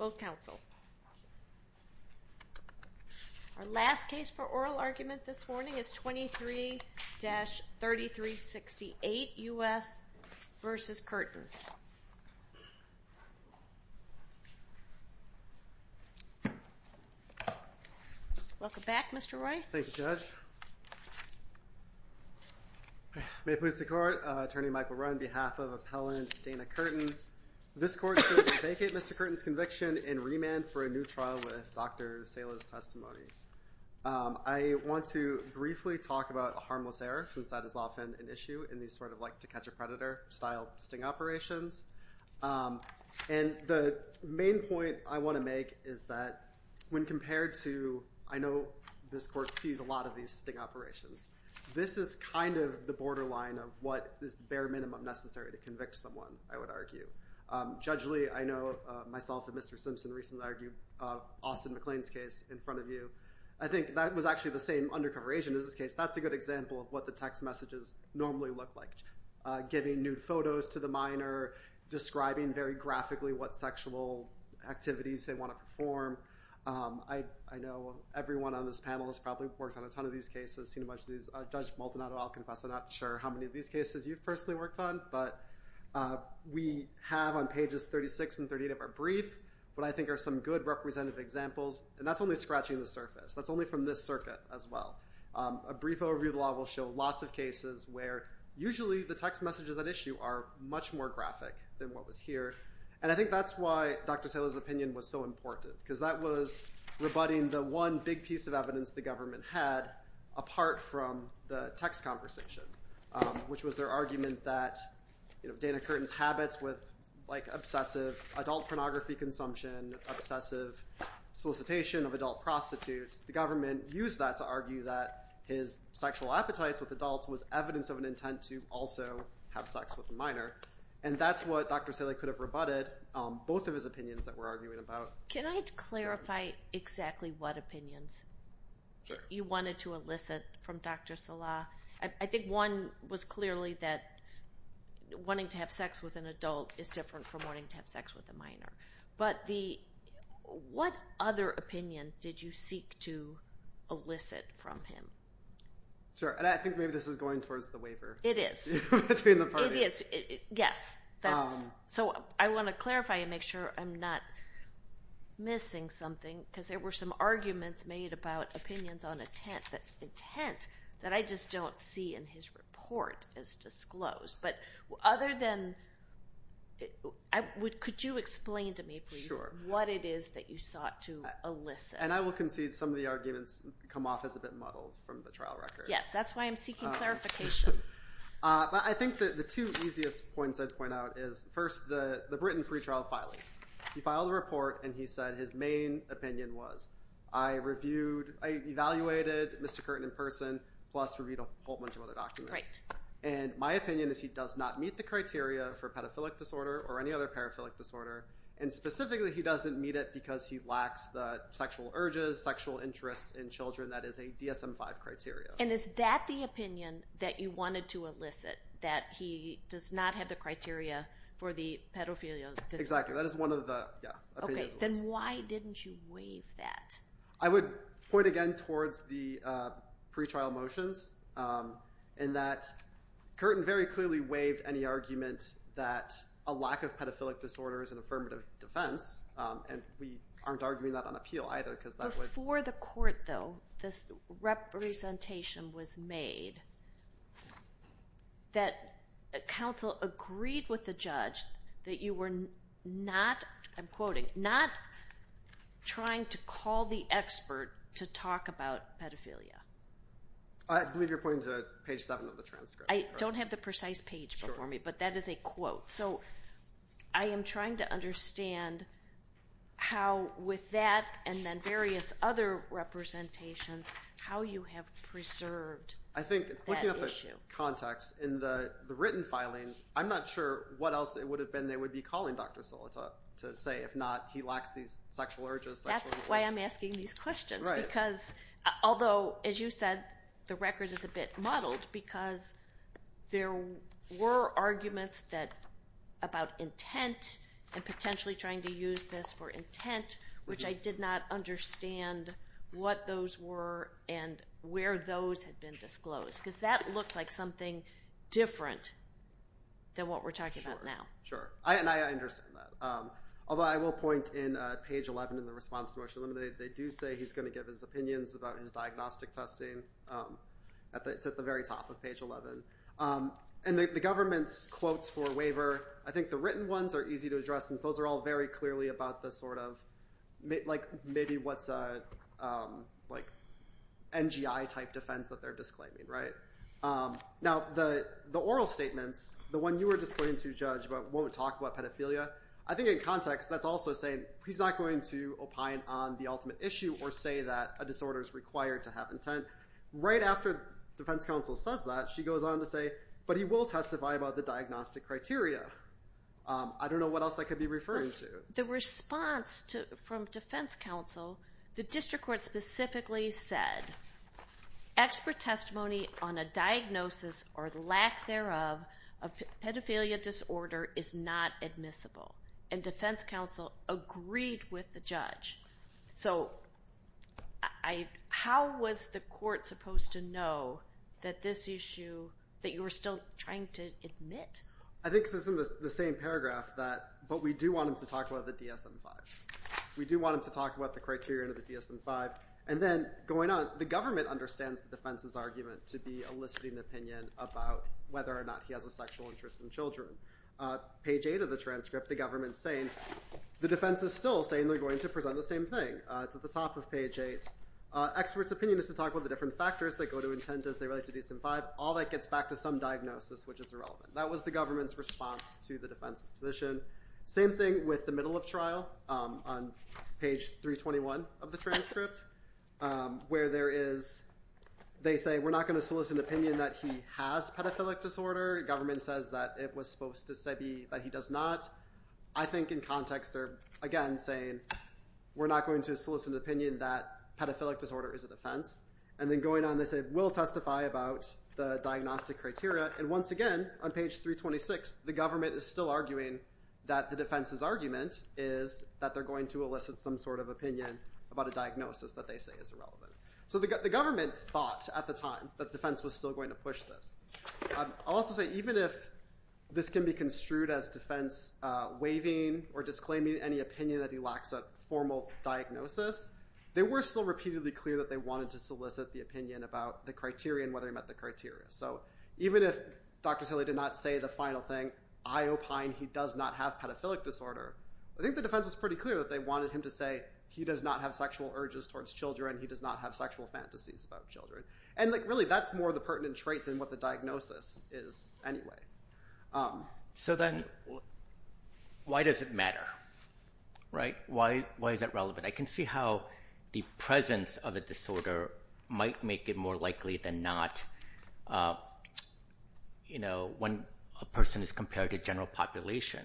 Our last case for oral argument this morning is 23-3368 U.S. v. Curtin. Welcome back, Mr. Roy. Thank you, Judge. May it please the Court, Attorney Michael Roy on behalf of Appellant Dana Curtin. This Court should vacate Mr. Curtin's conviction and remand for a new trial with Dr. Sala's testimony. I want to briefly talk about a harmless error, since that is often an issue in these sort of like to catch a predator style sting operations. And the main point I want to make is that when compared to, I know this Court sees a lot of these sting operations, this is kind of the borderline of what is the bare minimum necessary to convict someone, I would argue. Judge Lee, I know myself and Mr. Simpson recently argued Austin McLean's case in front of you. I think that was actually the same undercover agent as this case. That's a good example of what the text messages normally look like, giving nude photos to the minor, describing very graphically what sexual activities they want to perform. I know everyone on this panel has probably worked on a ton of these cases, seen a bunch of these. Judge Maldonado, I'll confess I'm not sure how many of these cases you've personally worked on, but we have on pages 36 and 38 of our brief what I think are some good representative examples. And that's only scratching the surface. That's only from this circuit as well. A brief overview of the law will show lots of cases where usually the text messages at issue are much more graphic than what was here. And I think that's why Dr. Saylor's opinion was so important, because that was rebutting the one big piece of evidence the government had apart from the text conversation, which was their argument that Dana Curtin's habits with obsessive adult pornography consumption, obsessive solicitation of adult prostitutes, the government used that to argue that his sexual appetites with adults was evidence of an intent to also have sex with the minor. And that's what Dr. Saylor could have rebutted, both of his opinions that we're arguing about. Can I clarify exactly what opinions you wanted to elicit from Dr. Salah? I think one was clearly that wanting to have sex with an adult is different from wanting to have sex with a minor. But what other opinion did you seek to elicit from him? Sure. And I think maybe this is going towards the waiver. It is. Between the parties. It is. Yes. So I want to clarify and make sure I'm not missing something, because there were some arguments made about opinions on intent that I just don't see in his report as disclosed. But other than, could you explain to me, please, what it is that you sought to elicit? And I will concede some of the arguments come off as a bit muddled from the trial record. Yes, that's why I'm seeking clarification. I think that the two easiest points I'd point out is, first, the Britain pretrial filings. He filed a report and he said his main opinion was, I evaluated Mr. Curtin in person, plus reviewed a whole bunch of other documents. And my opinion is he does not meet the criteria for pedophilic disorder or any other paraphilic disorder. And specifically, he doesn't meet it because he lacks the sexual urges, sexual interests in children that is a DSM-5 criteria. And is that the opinion that you wanted to elicit? That he does not have the criteria for the pedophilia disorder? Exactly. That is one of the opinions. Okay. Then why didn't you waive that? I would point again towards the pretrial motions in that Curtin very clearly waived any argument that a lack of pedophilic disorder is an affirmative defense. And we aren't arguing that on appeal, either, because that would— Before the court, though, this representation was made that counsel agreed with the judge that you were not, I'm quoting, not trying to call the expert to talk about pedophilia. I believe you're pointing to page 7 of the transcript. I don't have the precise page before me, but that is a quote. So I am trying to understand how with that and then various other representations, how you have preserved that issue. I think it's looking at the context. In the written filings, I'm not sure what else it would have been they would be calling Dr. Solita to say if not he lacks these sexual urges. That's why I'm asking these questions, because although, as you said, the record is a bit muddled because there were arguments about intent and potentially trying to use this for intent, which I did not understand what those were and where those had been disclosed. Because that looked like something different than what we're talking about now. Sure. And I understand that. Although, I will point in page 11 in the response to Motion to Eliminate, they do say he's going to give his opinions about his diagnostic testing. It's at the very top of page 11. And the government's quotes for waiver, I think the written ones are easy to address since those are all very clearly about the sort of—maybe what's an NGI-type defense that they're disclaiming, right? Now the oral statements, the one you were just pointing to, Judge, about won't talk about pedophilia, I think in context that's also saying he's not going to opine on the ultimate issue or say that a disorder is required to have intent. Right after the defense counsel says that, she goes on to say, but he will testify about the diagnostic criteria. I don't know what else I could be referring to. The response from defense counsel, the district court specifically said, expert testimony on a diagnosis or lack thereof of pedophilia disorder is not admissible. And defense counsel agreed with the judge. So how was the court supposed to know that this issue that you were still trying to admit? I think it's in the same paragraph that—but we do want him to talk about the DSM-5. We do want him to talk about the criterion of the DSM-5. And then going on, the government understands the defense's argument to be eliciting opinion about whether or not he has a sexual interest in children. Page 8 of the transcript, the government's saying—the defense is still saying they're going to present the same thing. It's at the top of page 8. Expert's opinion is to talk about the different factors that go to intent as they relate to DSM-5. All that gets back to some diagnosis, which is irrelevant. That was the government's response to the defense's position. Same thing with the middle of trial, on page 321 of the transcript, where there is—they say we're not going to solicit an opinion that he has pedophilic disorder. Government says that it was supposed to say that he does not. I think in context, they're again saying we're not going to solicit an opinion that pedophilic disorder is a defense. And then going on, they say we'll testify about the diagnostic criteria. And once again, on page 326, the government is still arguing that the defense's argument is that they're going to elicit some sort of opinion about a diagnosis that they say is irrelevant. So the government thought at the time that the defense was still going to push this. I'll also say, even if this can be construed as defense waiving or disclaiming any opinion that he lacks a formal diagnosis, they were still repeatedly clear that they wanted to solicit the opinion about the criteria and whether he met the criteria. So even if Dr. Tilley did not say the final thing, I opine he does not have pedophilic disorder, I think the defense was pretty clear that they wanted him to say he does not have sexual urges towards children, he does not have sexual fantasies about children. And really, that's more the pertinent trait than what the diagnosis is anyway. So then, why does it matter, right? Why is that relevant? I can see how the presence of a disorder might make it more likely than not when a person is compared to general population,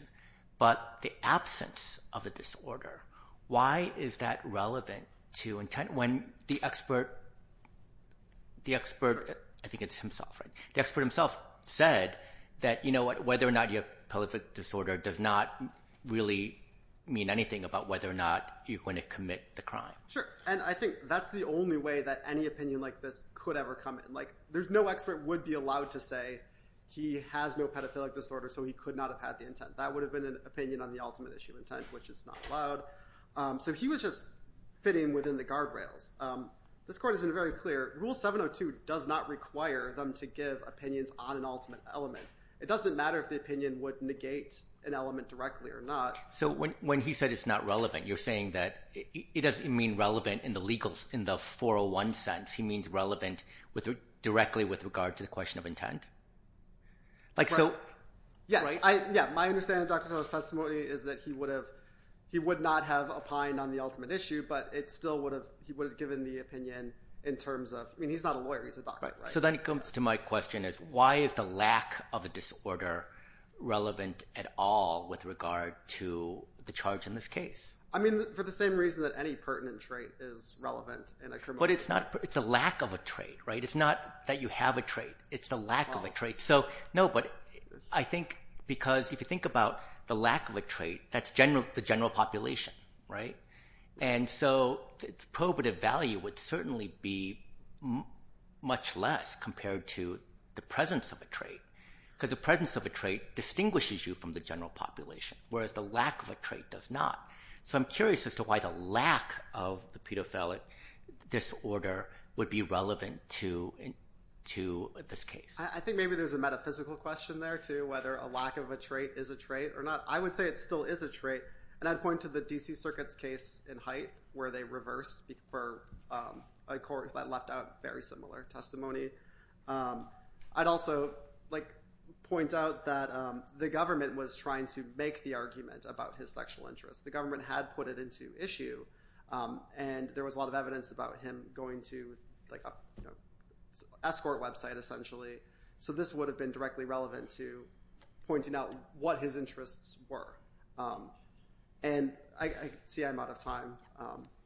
but the absence of a disorder, why is that relevant to intent when the expert, I think it's himself, the expert himself said that, you know what, whether or not you have pedophilic disorder does not really mean anything about whether or not you're going to commit the crime. Sure. And I think that's the only way that any opinion like this could ever come in. There's no expert would be allowed to say he has no pedophilic disorder, so he could not have had the intent. That would have been an opinion on the ultimate issue intent, which is not allowed. So he was just fitting within the guardrails. This court has been very clear, Rule 702 does not require them to give opinions on an ultimate element. It doesn't matter if the opinion would negate an element directly or not. So when he said it's not relevant, you're saying that it doesn't mean relevant in the legal, in the 401 sense, he means relevant directly with regard to the question of intent? Yes, my understanding of Dr. Soto's testimony is that he would not have opined on the ultimate issue, but it still would have, he would have given the opinion in terms of, I mean he's not a lawyer, he's a doctor, right? So then it comes to my question is why is the lack of a disorder relevant at all with regard to the charge in this case? I mean for the same reason that any pertinent trait is relevant in a criminal case. But it's not, it's a lack of a trait, right? It's not that you have a trait, it's the lack of a trait. So no, but I think because if you think about the lack of a trait, that's the general population, right? And so its probative value would certainly be much less compared to the presence of a trait, whereas the lack of a trait does not. So I'm curious as to why the lack of the pedophilic disorder would be relevant to this case. I think maybe there's a metaphysical question there too, whether a lack of a trait is a trait or not. I would say it still is a trait, and I'd point to the D.C. Circuit's case in Hite where they reversed for a court that left out very similar testimony. I'd also point out that the government was trying to make the argument about his sexual interests. The government had put it into issue, and there was a lot of evidence about him going to an escort website, essentially. So this would have been directly relevant to pointing out what his interests were. And I see I'm out of time.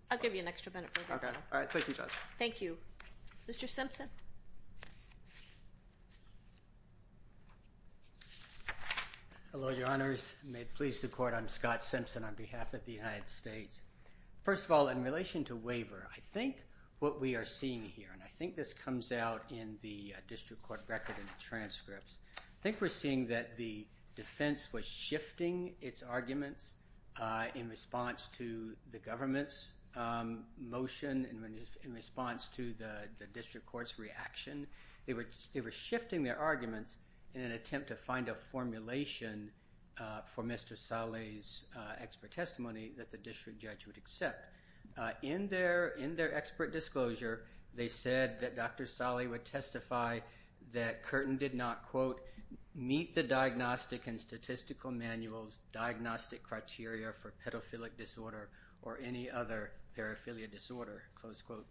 I'll give you an extra minute. Okay. All right. Thank you, Judge. Thank you. Mr. Simpson. Hello, Your Honors. May it please the Court, I'm Scott Simpson on behalf of the United States. First of all, in relation to waiver, I think what we are seeing here, and I think this comes out in the district court record and the transcripts, I think we're seeing that the defense was shifting its arguments in response to the government's motion, in response to the district court's reaction. They were shifting their arguments in an attempt to find a formulation for Mr. Saleh's expert testimony that the district judge would accept. In their expert disclosure, they said that Dr. Saleh would testify that Curtin did not, quote, meet the diagnostic and statistical manual's diagnostic criteria for pedophilic disorder, close quote,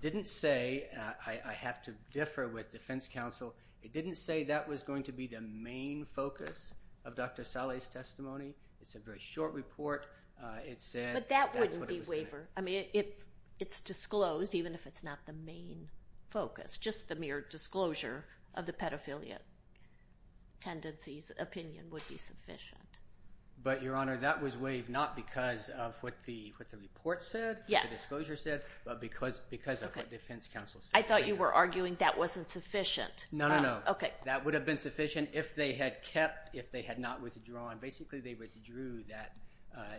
didn't say, I have to differ with defense counsel, it didn't say that was going to be the main focus of Dr. Saleh's testimony. It's a very short report. It said that's what it was going to be. But that wouldn't be waiver. I mean, it's disclosed, even if it's not the main focus. Just the mere disclosure of the pedophiliac tendency's opinion would be sufficient. But Your Honor, that was waived not because of what the report said, the disclosure said, but because of what defense counsel said. I thought you were arguing that wasn't sufficient. No, no, no. That would have been sufficient if they had kept, if they had not withdrawn. Basically they withdrew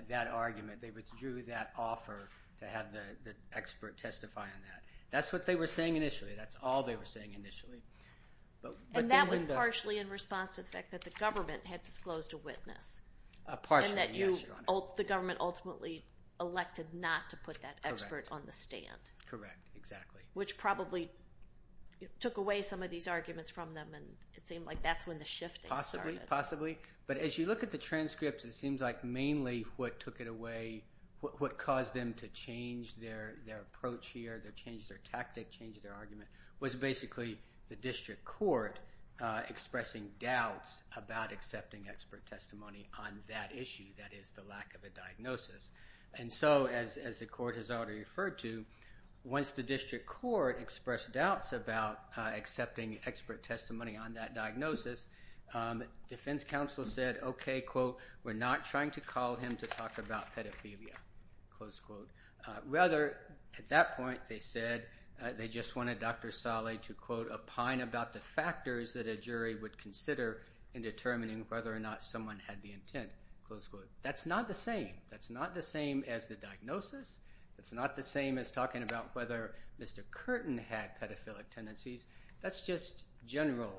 that argument, they withdrew that offer to have the expert testify on that. That's what they were saying initially. That's all they were saying initially. And that was partially in response to the fact that the government had disclosed a witness. Partially, yes, Your Honor. And that you, the government ultimately elected not to put that expert on the stand. Correct, exactly. Which probably took away some of these arguments from them and it seemed like that's when the shifting started. Possibly, possibly. But as you look at the transcripts, it seems like mainly what took it away, what caused them to change their approach here, change their tactic, change their argument, was basically the district court expressing doubts about accepting expert testimony on that issue. That is, the lack of a diagnosis. And so, as the court has already referred to, once the district court expressed doubts about accepting expert testimony on that diagnosis, defense counsel said, okay, quote, we're not trying to call him to talk about pedophilia, close quote. Rather, at that point, they said they just wanted Dr. Saleh to quote, opine about the factors that a jury would consider in determining whether or not someone had the intent, close quote. That's not the same. That's not the same as the diagnosis. It's not the same as talking about whether Mr. Curtin had pedophilic tendencies. That's just general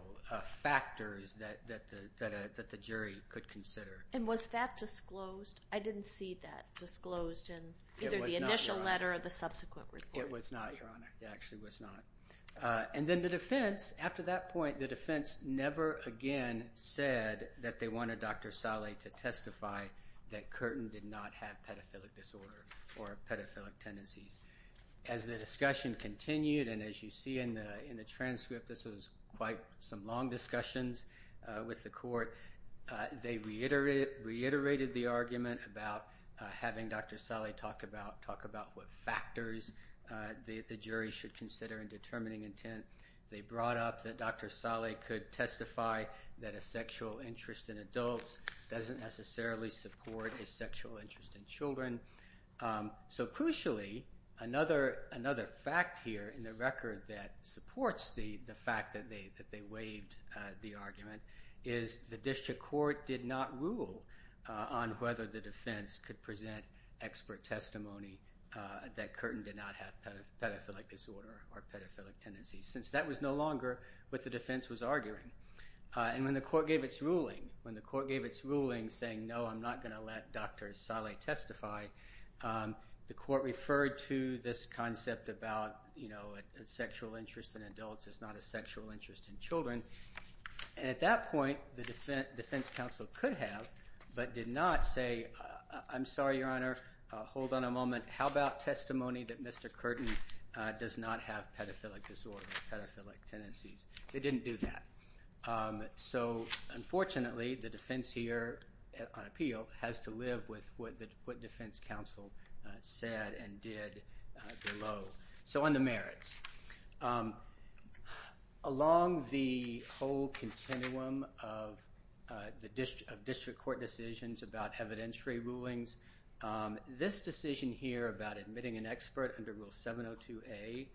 factors that the jury could consider. And was that disclosed? I didn't see that disclosed in either the initial letter or the subsequent report. It was not, Your Honor. It actually was not. And then the defense, after that point, the defense never again said that they wanted Dr. Saleh to testify that Curtin did not have pedophilic disorder or pedophilic tendencies. As the discussion continued, and as you see in the transcript, this was quite some long discussions with the court, they reiterated the argument about having Dr. Saleh talk about what factors the jury should consider in determining intent. They brought up that Dr. Saleh could testify that a sexual interest in adults doesn't necessarily support a sexual interest in children. So crucially, another fact here in the record that supports the fact that they waived the argument is the district court did not rule on whether the defense could present expert testimony that Curtin did not have pedophilic disorder or pedophilic tendencies, since that was no longer what the defense was arguing. And when the court gave its ruling, when the court gave its ruling saying, no, I'm not going to let Dr. Saleh testify, the court referred to this concept about a sexual interest in adults is not a sexual interest in children, and at that point, the defense counsel could have, but did not say, I'm sorry, Your Honor, hold on a moment. How about testimony that Mr. Curtin does not have pedophilic disorder or pedophilic tendencies? They didn't do that. So unfortunately, the defense here on appeal has to live with what defense counsel said and did below. So on the merits, along the whole continuum of district court decisions about evidentiary rulings, this decision here about admitting an expert under Rule 702A,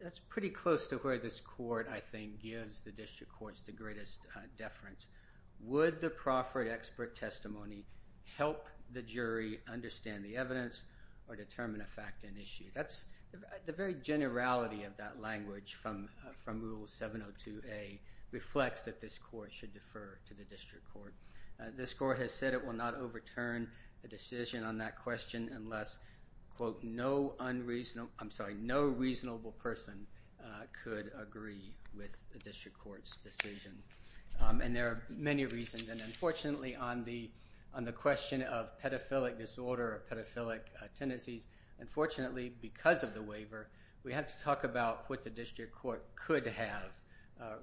that's pretty close to where this court, I think, gives the district courts the greatest deference. Would the proffered expert testimony help the jury understand the evidence or determine a fact and issue? That's the very generality of that language from Rule 702A reflects that this court should defer to the district court. This court has said it will not overturn the decision on that question unless, quote, no unreasonable person could agree with the district court's decision. And there are many reasons, and unfortunately, on the question of pedophilic disorder or pedophilic tendencies, unfortunately, because of the waiver, we have to talk about what the district court could have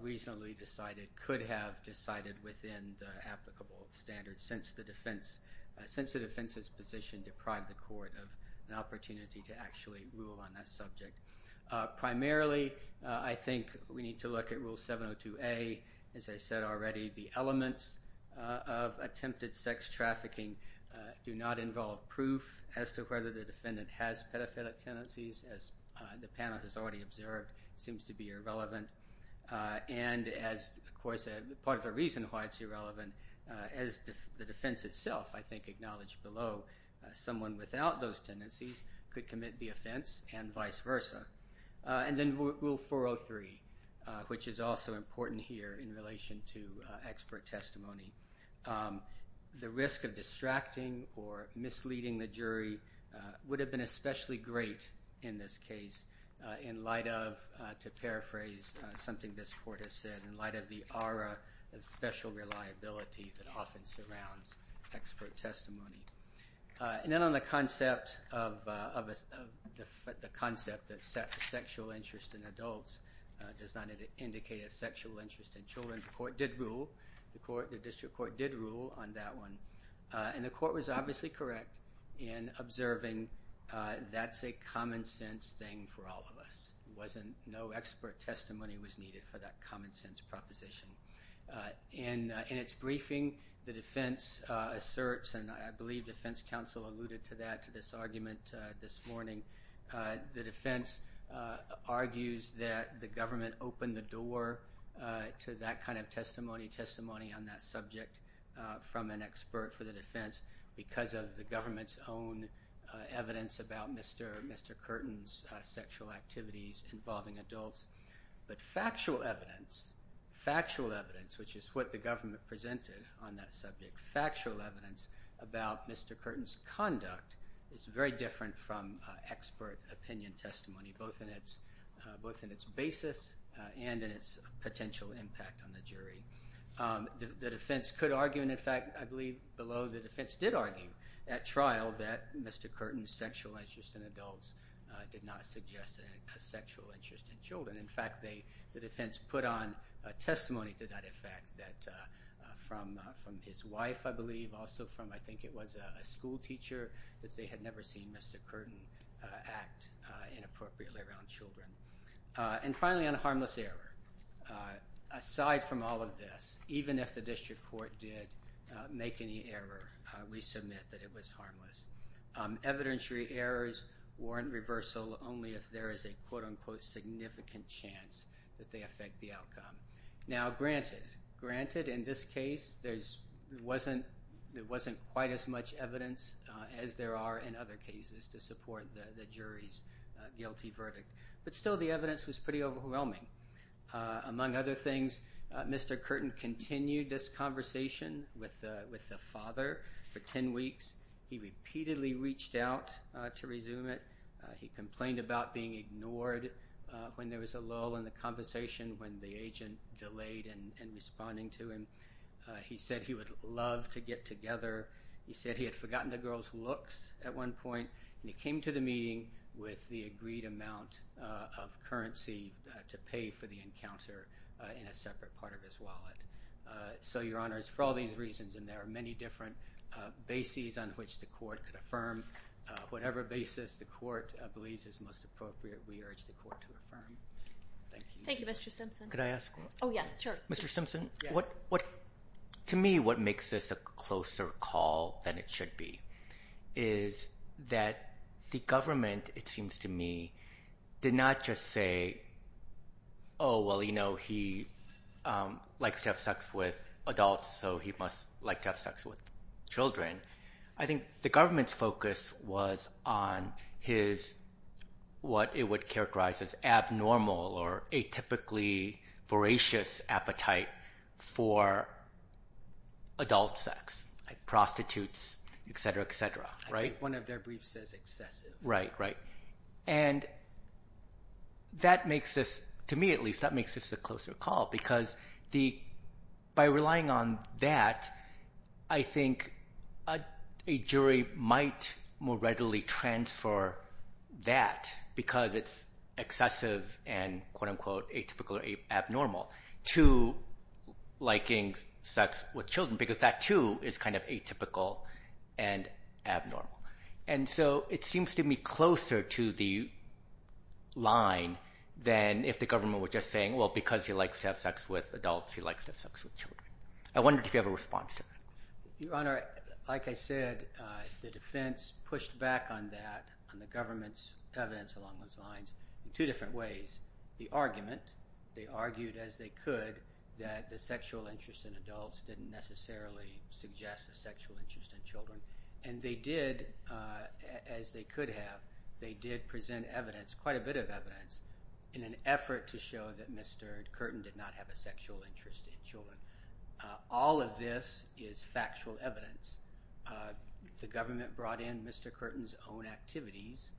reasonably decided, could have decided within the applicable standards since the defense's position deprived the court of an opportunity to actually rule on that subject. Primarily, I think we need to look at Rule 702A. As I said already, the elements of attempted sex trafficking do not involve proof as to whether the defendant has pedophilic tendencies, as the panel has already observed, seems to be irrelevant. And as, of course, part of the reason why it's irrelevant, as the defense itself, I think, acknowledged below, someone without those tendencies could commit the offense and vice versa. And then Rule 403, which is also important here in relation to expert testimony, the risk of distracting or misleading the jury would have been especially great in this case in light of, to paraphrase something this court has said, in light of the aura of special reliability that often surrounds expert testimony. And then on the concept that sexual interest in adults does not indicate a sexual interest in children, the court did rule, the district court did rule on that one, and the court was obviously correct in observing that's a common sense thing for all of us. No expert testimony was needed for that common sense proposition. In its briefing, the defense asserts, and I believe defense counsel alluded to that to this argument this morning, the defense argues that the government opened the door to that kind of testimony, testimony on that subject, from an expert for the defense because of the government's own evidence about Mr. Curtin's sexual activities involving adults. But factual evidence, factual evidence, which is what the government presented on that subject, factual evidence about Mr. Curtin's conduct is very different from expert opinion testimony, both in its basis and in its potential impact on the jury. The defense could argue, and in fact I believe below, the defense did argue at trial that Mr. Curtin's sexual interest in adults did not suggest a sexual interest in children. In fact, the defense put on testimony to that effect that from his wife, I believe, also from, I think it was a school teacher, that they had never seen Mr. Curtin act inappropriately around children. And finally on harmless error, aside from all of this, even if the district court did make any error, we submit that it was harmless. Evidentiary errors warrant reversal only if there is a quote-unquote significant chance that they affect the outcome. Now granted, granted in this case there wasn't quite as much evidence as there are in other cases to support the jury's guilty verdict, but still the evidence was pretty overwhelming. Among other things, Mr. Curtin continued this conversation with the father for 10 weeks. He repeatedly reached out to resume it. He complained about being ignored when there was a lull in the conversation when the agent delayed in responding to him. He said he would love to get together. He said he had forgotten the girls' looks at one point, and he came to the meeting with the agreed amount of currency to pay for the encounter in a separate part of his wallet. So Your Honor, it's for all these reasons, and there are many different bases on which the court could affirm. Whatever basis the court believes is most appropriate, we urge the court to affirm. Thank you. Thank you, Mr. Simpson. Could I ask? Oh, yeah, sure. Mr. Simpson, to me what makes this a closer call than it should be is that the government, it seems to me, did not just say, oh, well, you know, he likes to have sex with adults, so he must like to have sex with children. I think the government's focus was on what it would characterize as abnormal or atypically voracious appetite for adult sex, like prostitutes, et cetera, et cetera. I think one of their briefs says excessive. Right, right. That makes this, to me at least, that makes this a closer call because by relying on that, a jury might more readily transfer that because it's excessive and, quote-unquote, atypical or abnormal to liking sex with children because that, too, is kind of atypical and abnormal. And so it seems to me closer to the line than if the government were just saying, well, because he likes to have sex with adults, he likes to have sex with children. I wondered if you have a response to that. Your Honor, like I said, the defense pushed back on that, on the government's evidence along those lines, in two different ways. The argument, they argued as they could that the sexual interest in adults didn't necessarily suggest a sexual interest in children. And they did, as they could have, they did present evidence, quite a bit of evidence, in an effort to show that Mr. Curtin did not have a sexual interest in children. All of this is factual evidence. The government brought in Mr. Curtin's own activities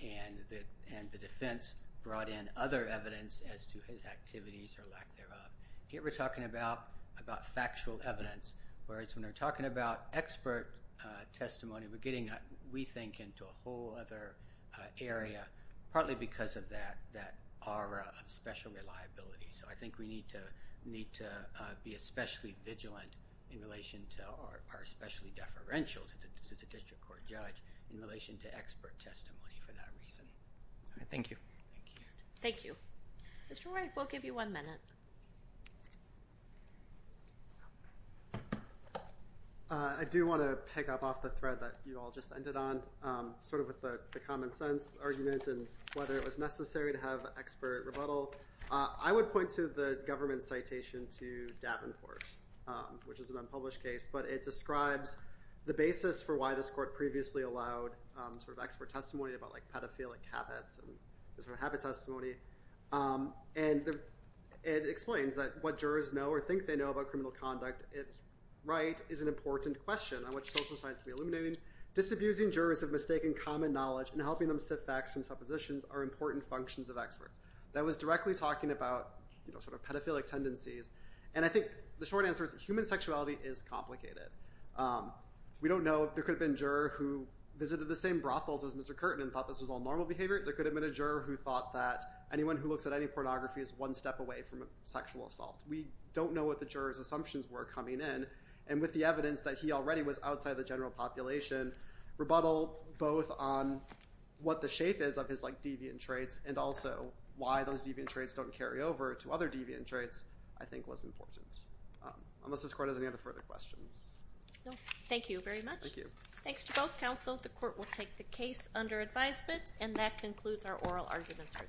and the defense brought in other evidence as to his activities or lack thereof. Here we're talking about factual evidence, whereas when we're talking about expert testimony, we're getting, we think, into a whole other area, partly because of that aura of special reliability. So I think we need to be especially vigilant in relation to, or especially deferential to the district court judge in relation to expert testimony for that reason. All right. Thank you. Thank you. Thank you. Mr. Wright, we'll give you one minute. I do want to pick up off the thread that you all just ended on, sort of with the common sense argument and whether it was necessary to have expert rebuttal. I would point to the government's citation to Davenport, which is an unpublished case, but it describes the basis for why this court previously allowed sort of expert testimony about pedophilic habits and sort of habit testimony. And it explains that what jurors know or think they know about criminal conduct, it's right, is an important question on which social science can be illuminating. Disabusing jurors of mistaken common knowledge and helping them sit facts and suppositions are important functions of experts. That was directly talking about sort of pedophilic tendencies. And I think the short answer is that human sexuality is complicated. We don't know if there could have been a juror who visited the same brothels as Mr. Curtin and thought this was all normal behavior. There could have been a juror who thought that anyone who looks at any pornography is one step away from sexual assault. We don't know what the jurors' assumptions were coming in. And with the evidence that he already was outside the general population, rebuttal both on what the shape is of his deviant traits and also why those deviant traits don't carry over to other deviant traits, I think was important. Unless this court has any other further questions. Thank you very much. Thank you. Thanks to both counsel. The court will take the case under advisement. And that concludes our oral arguments for today.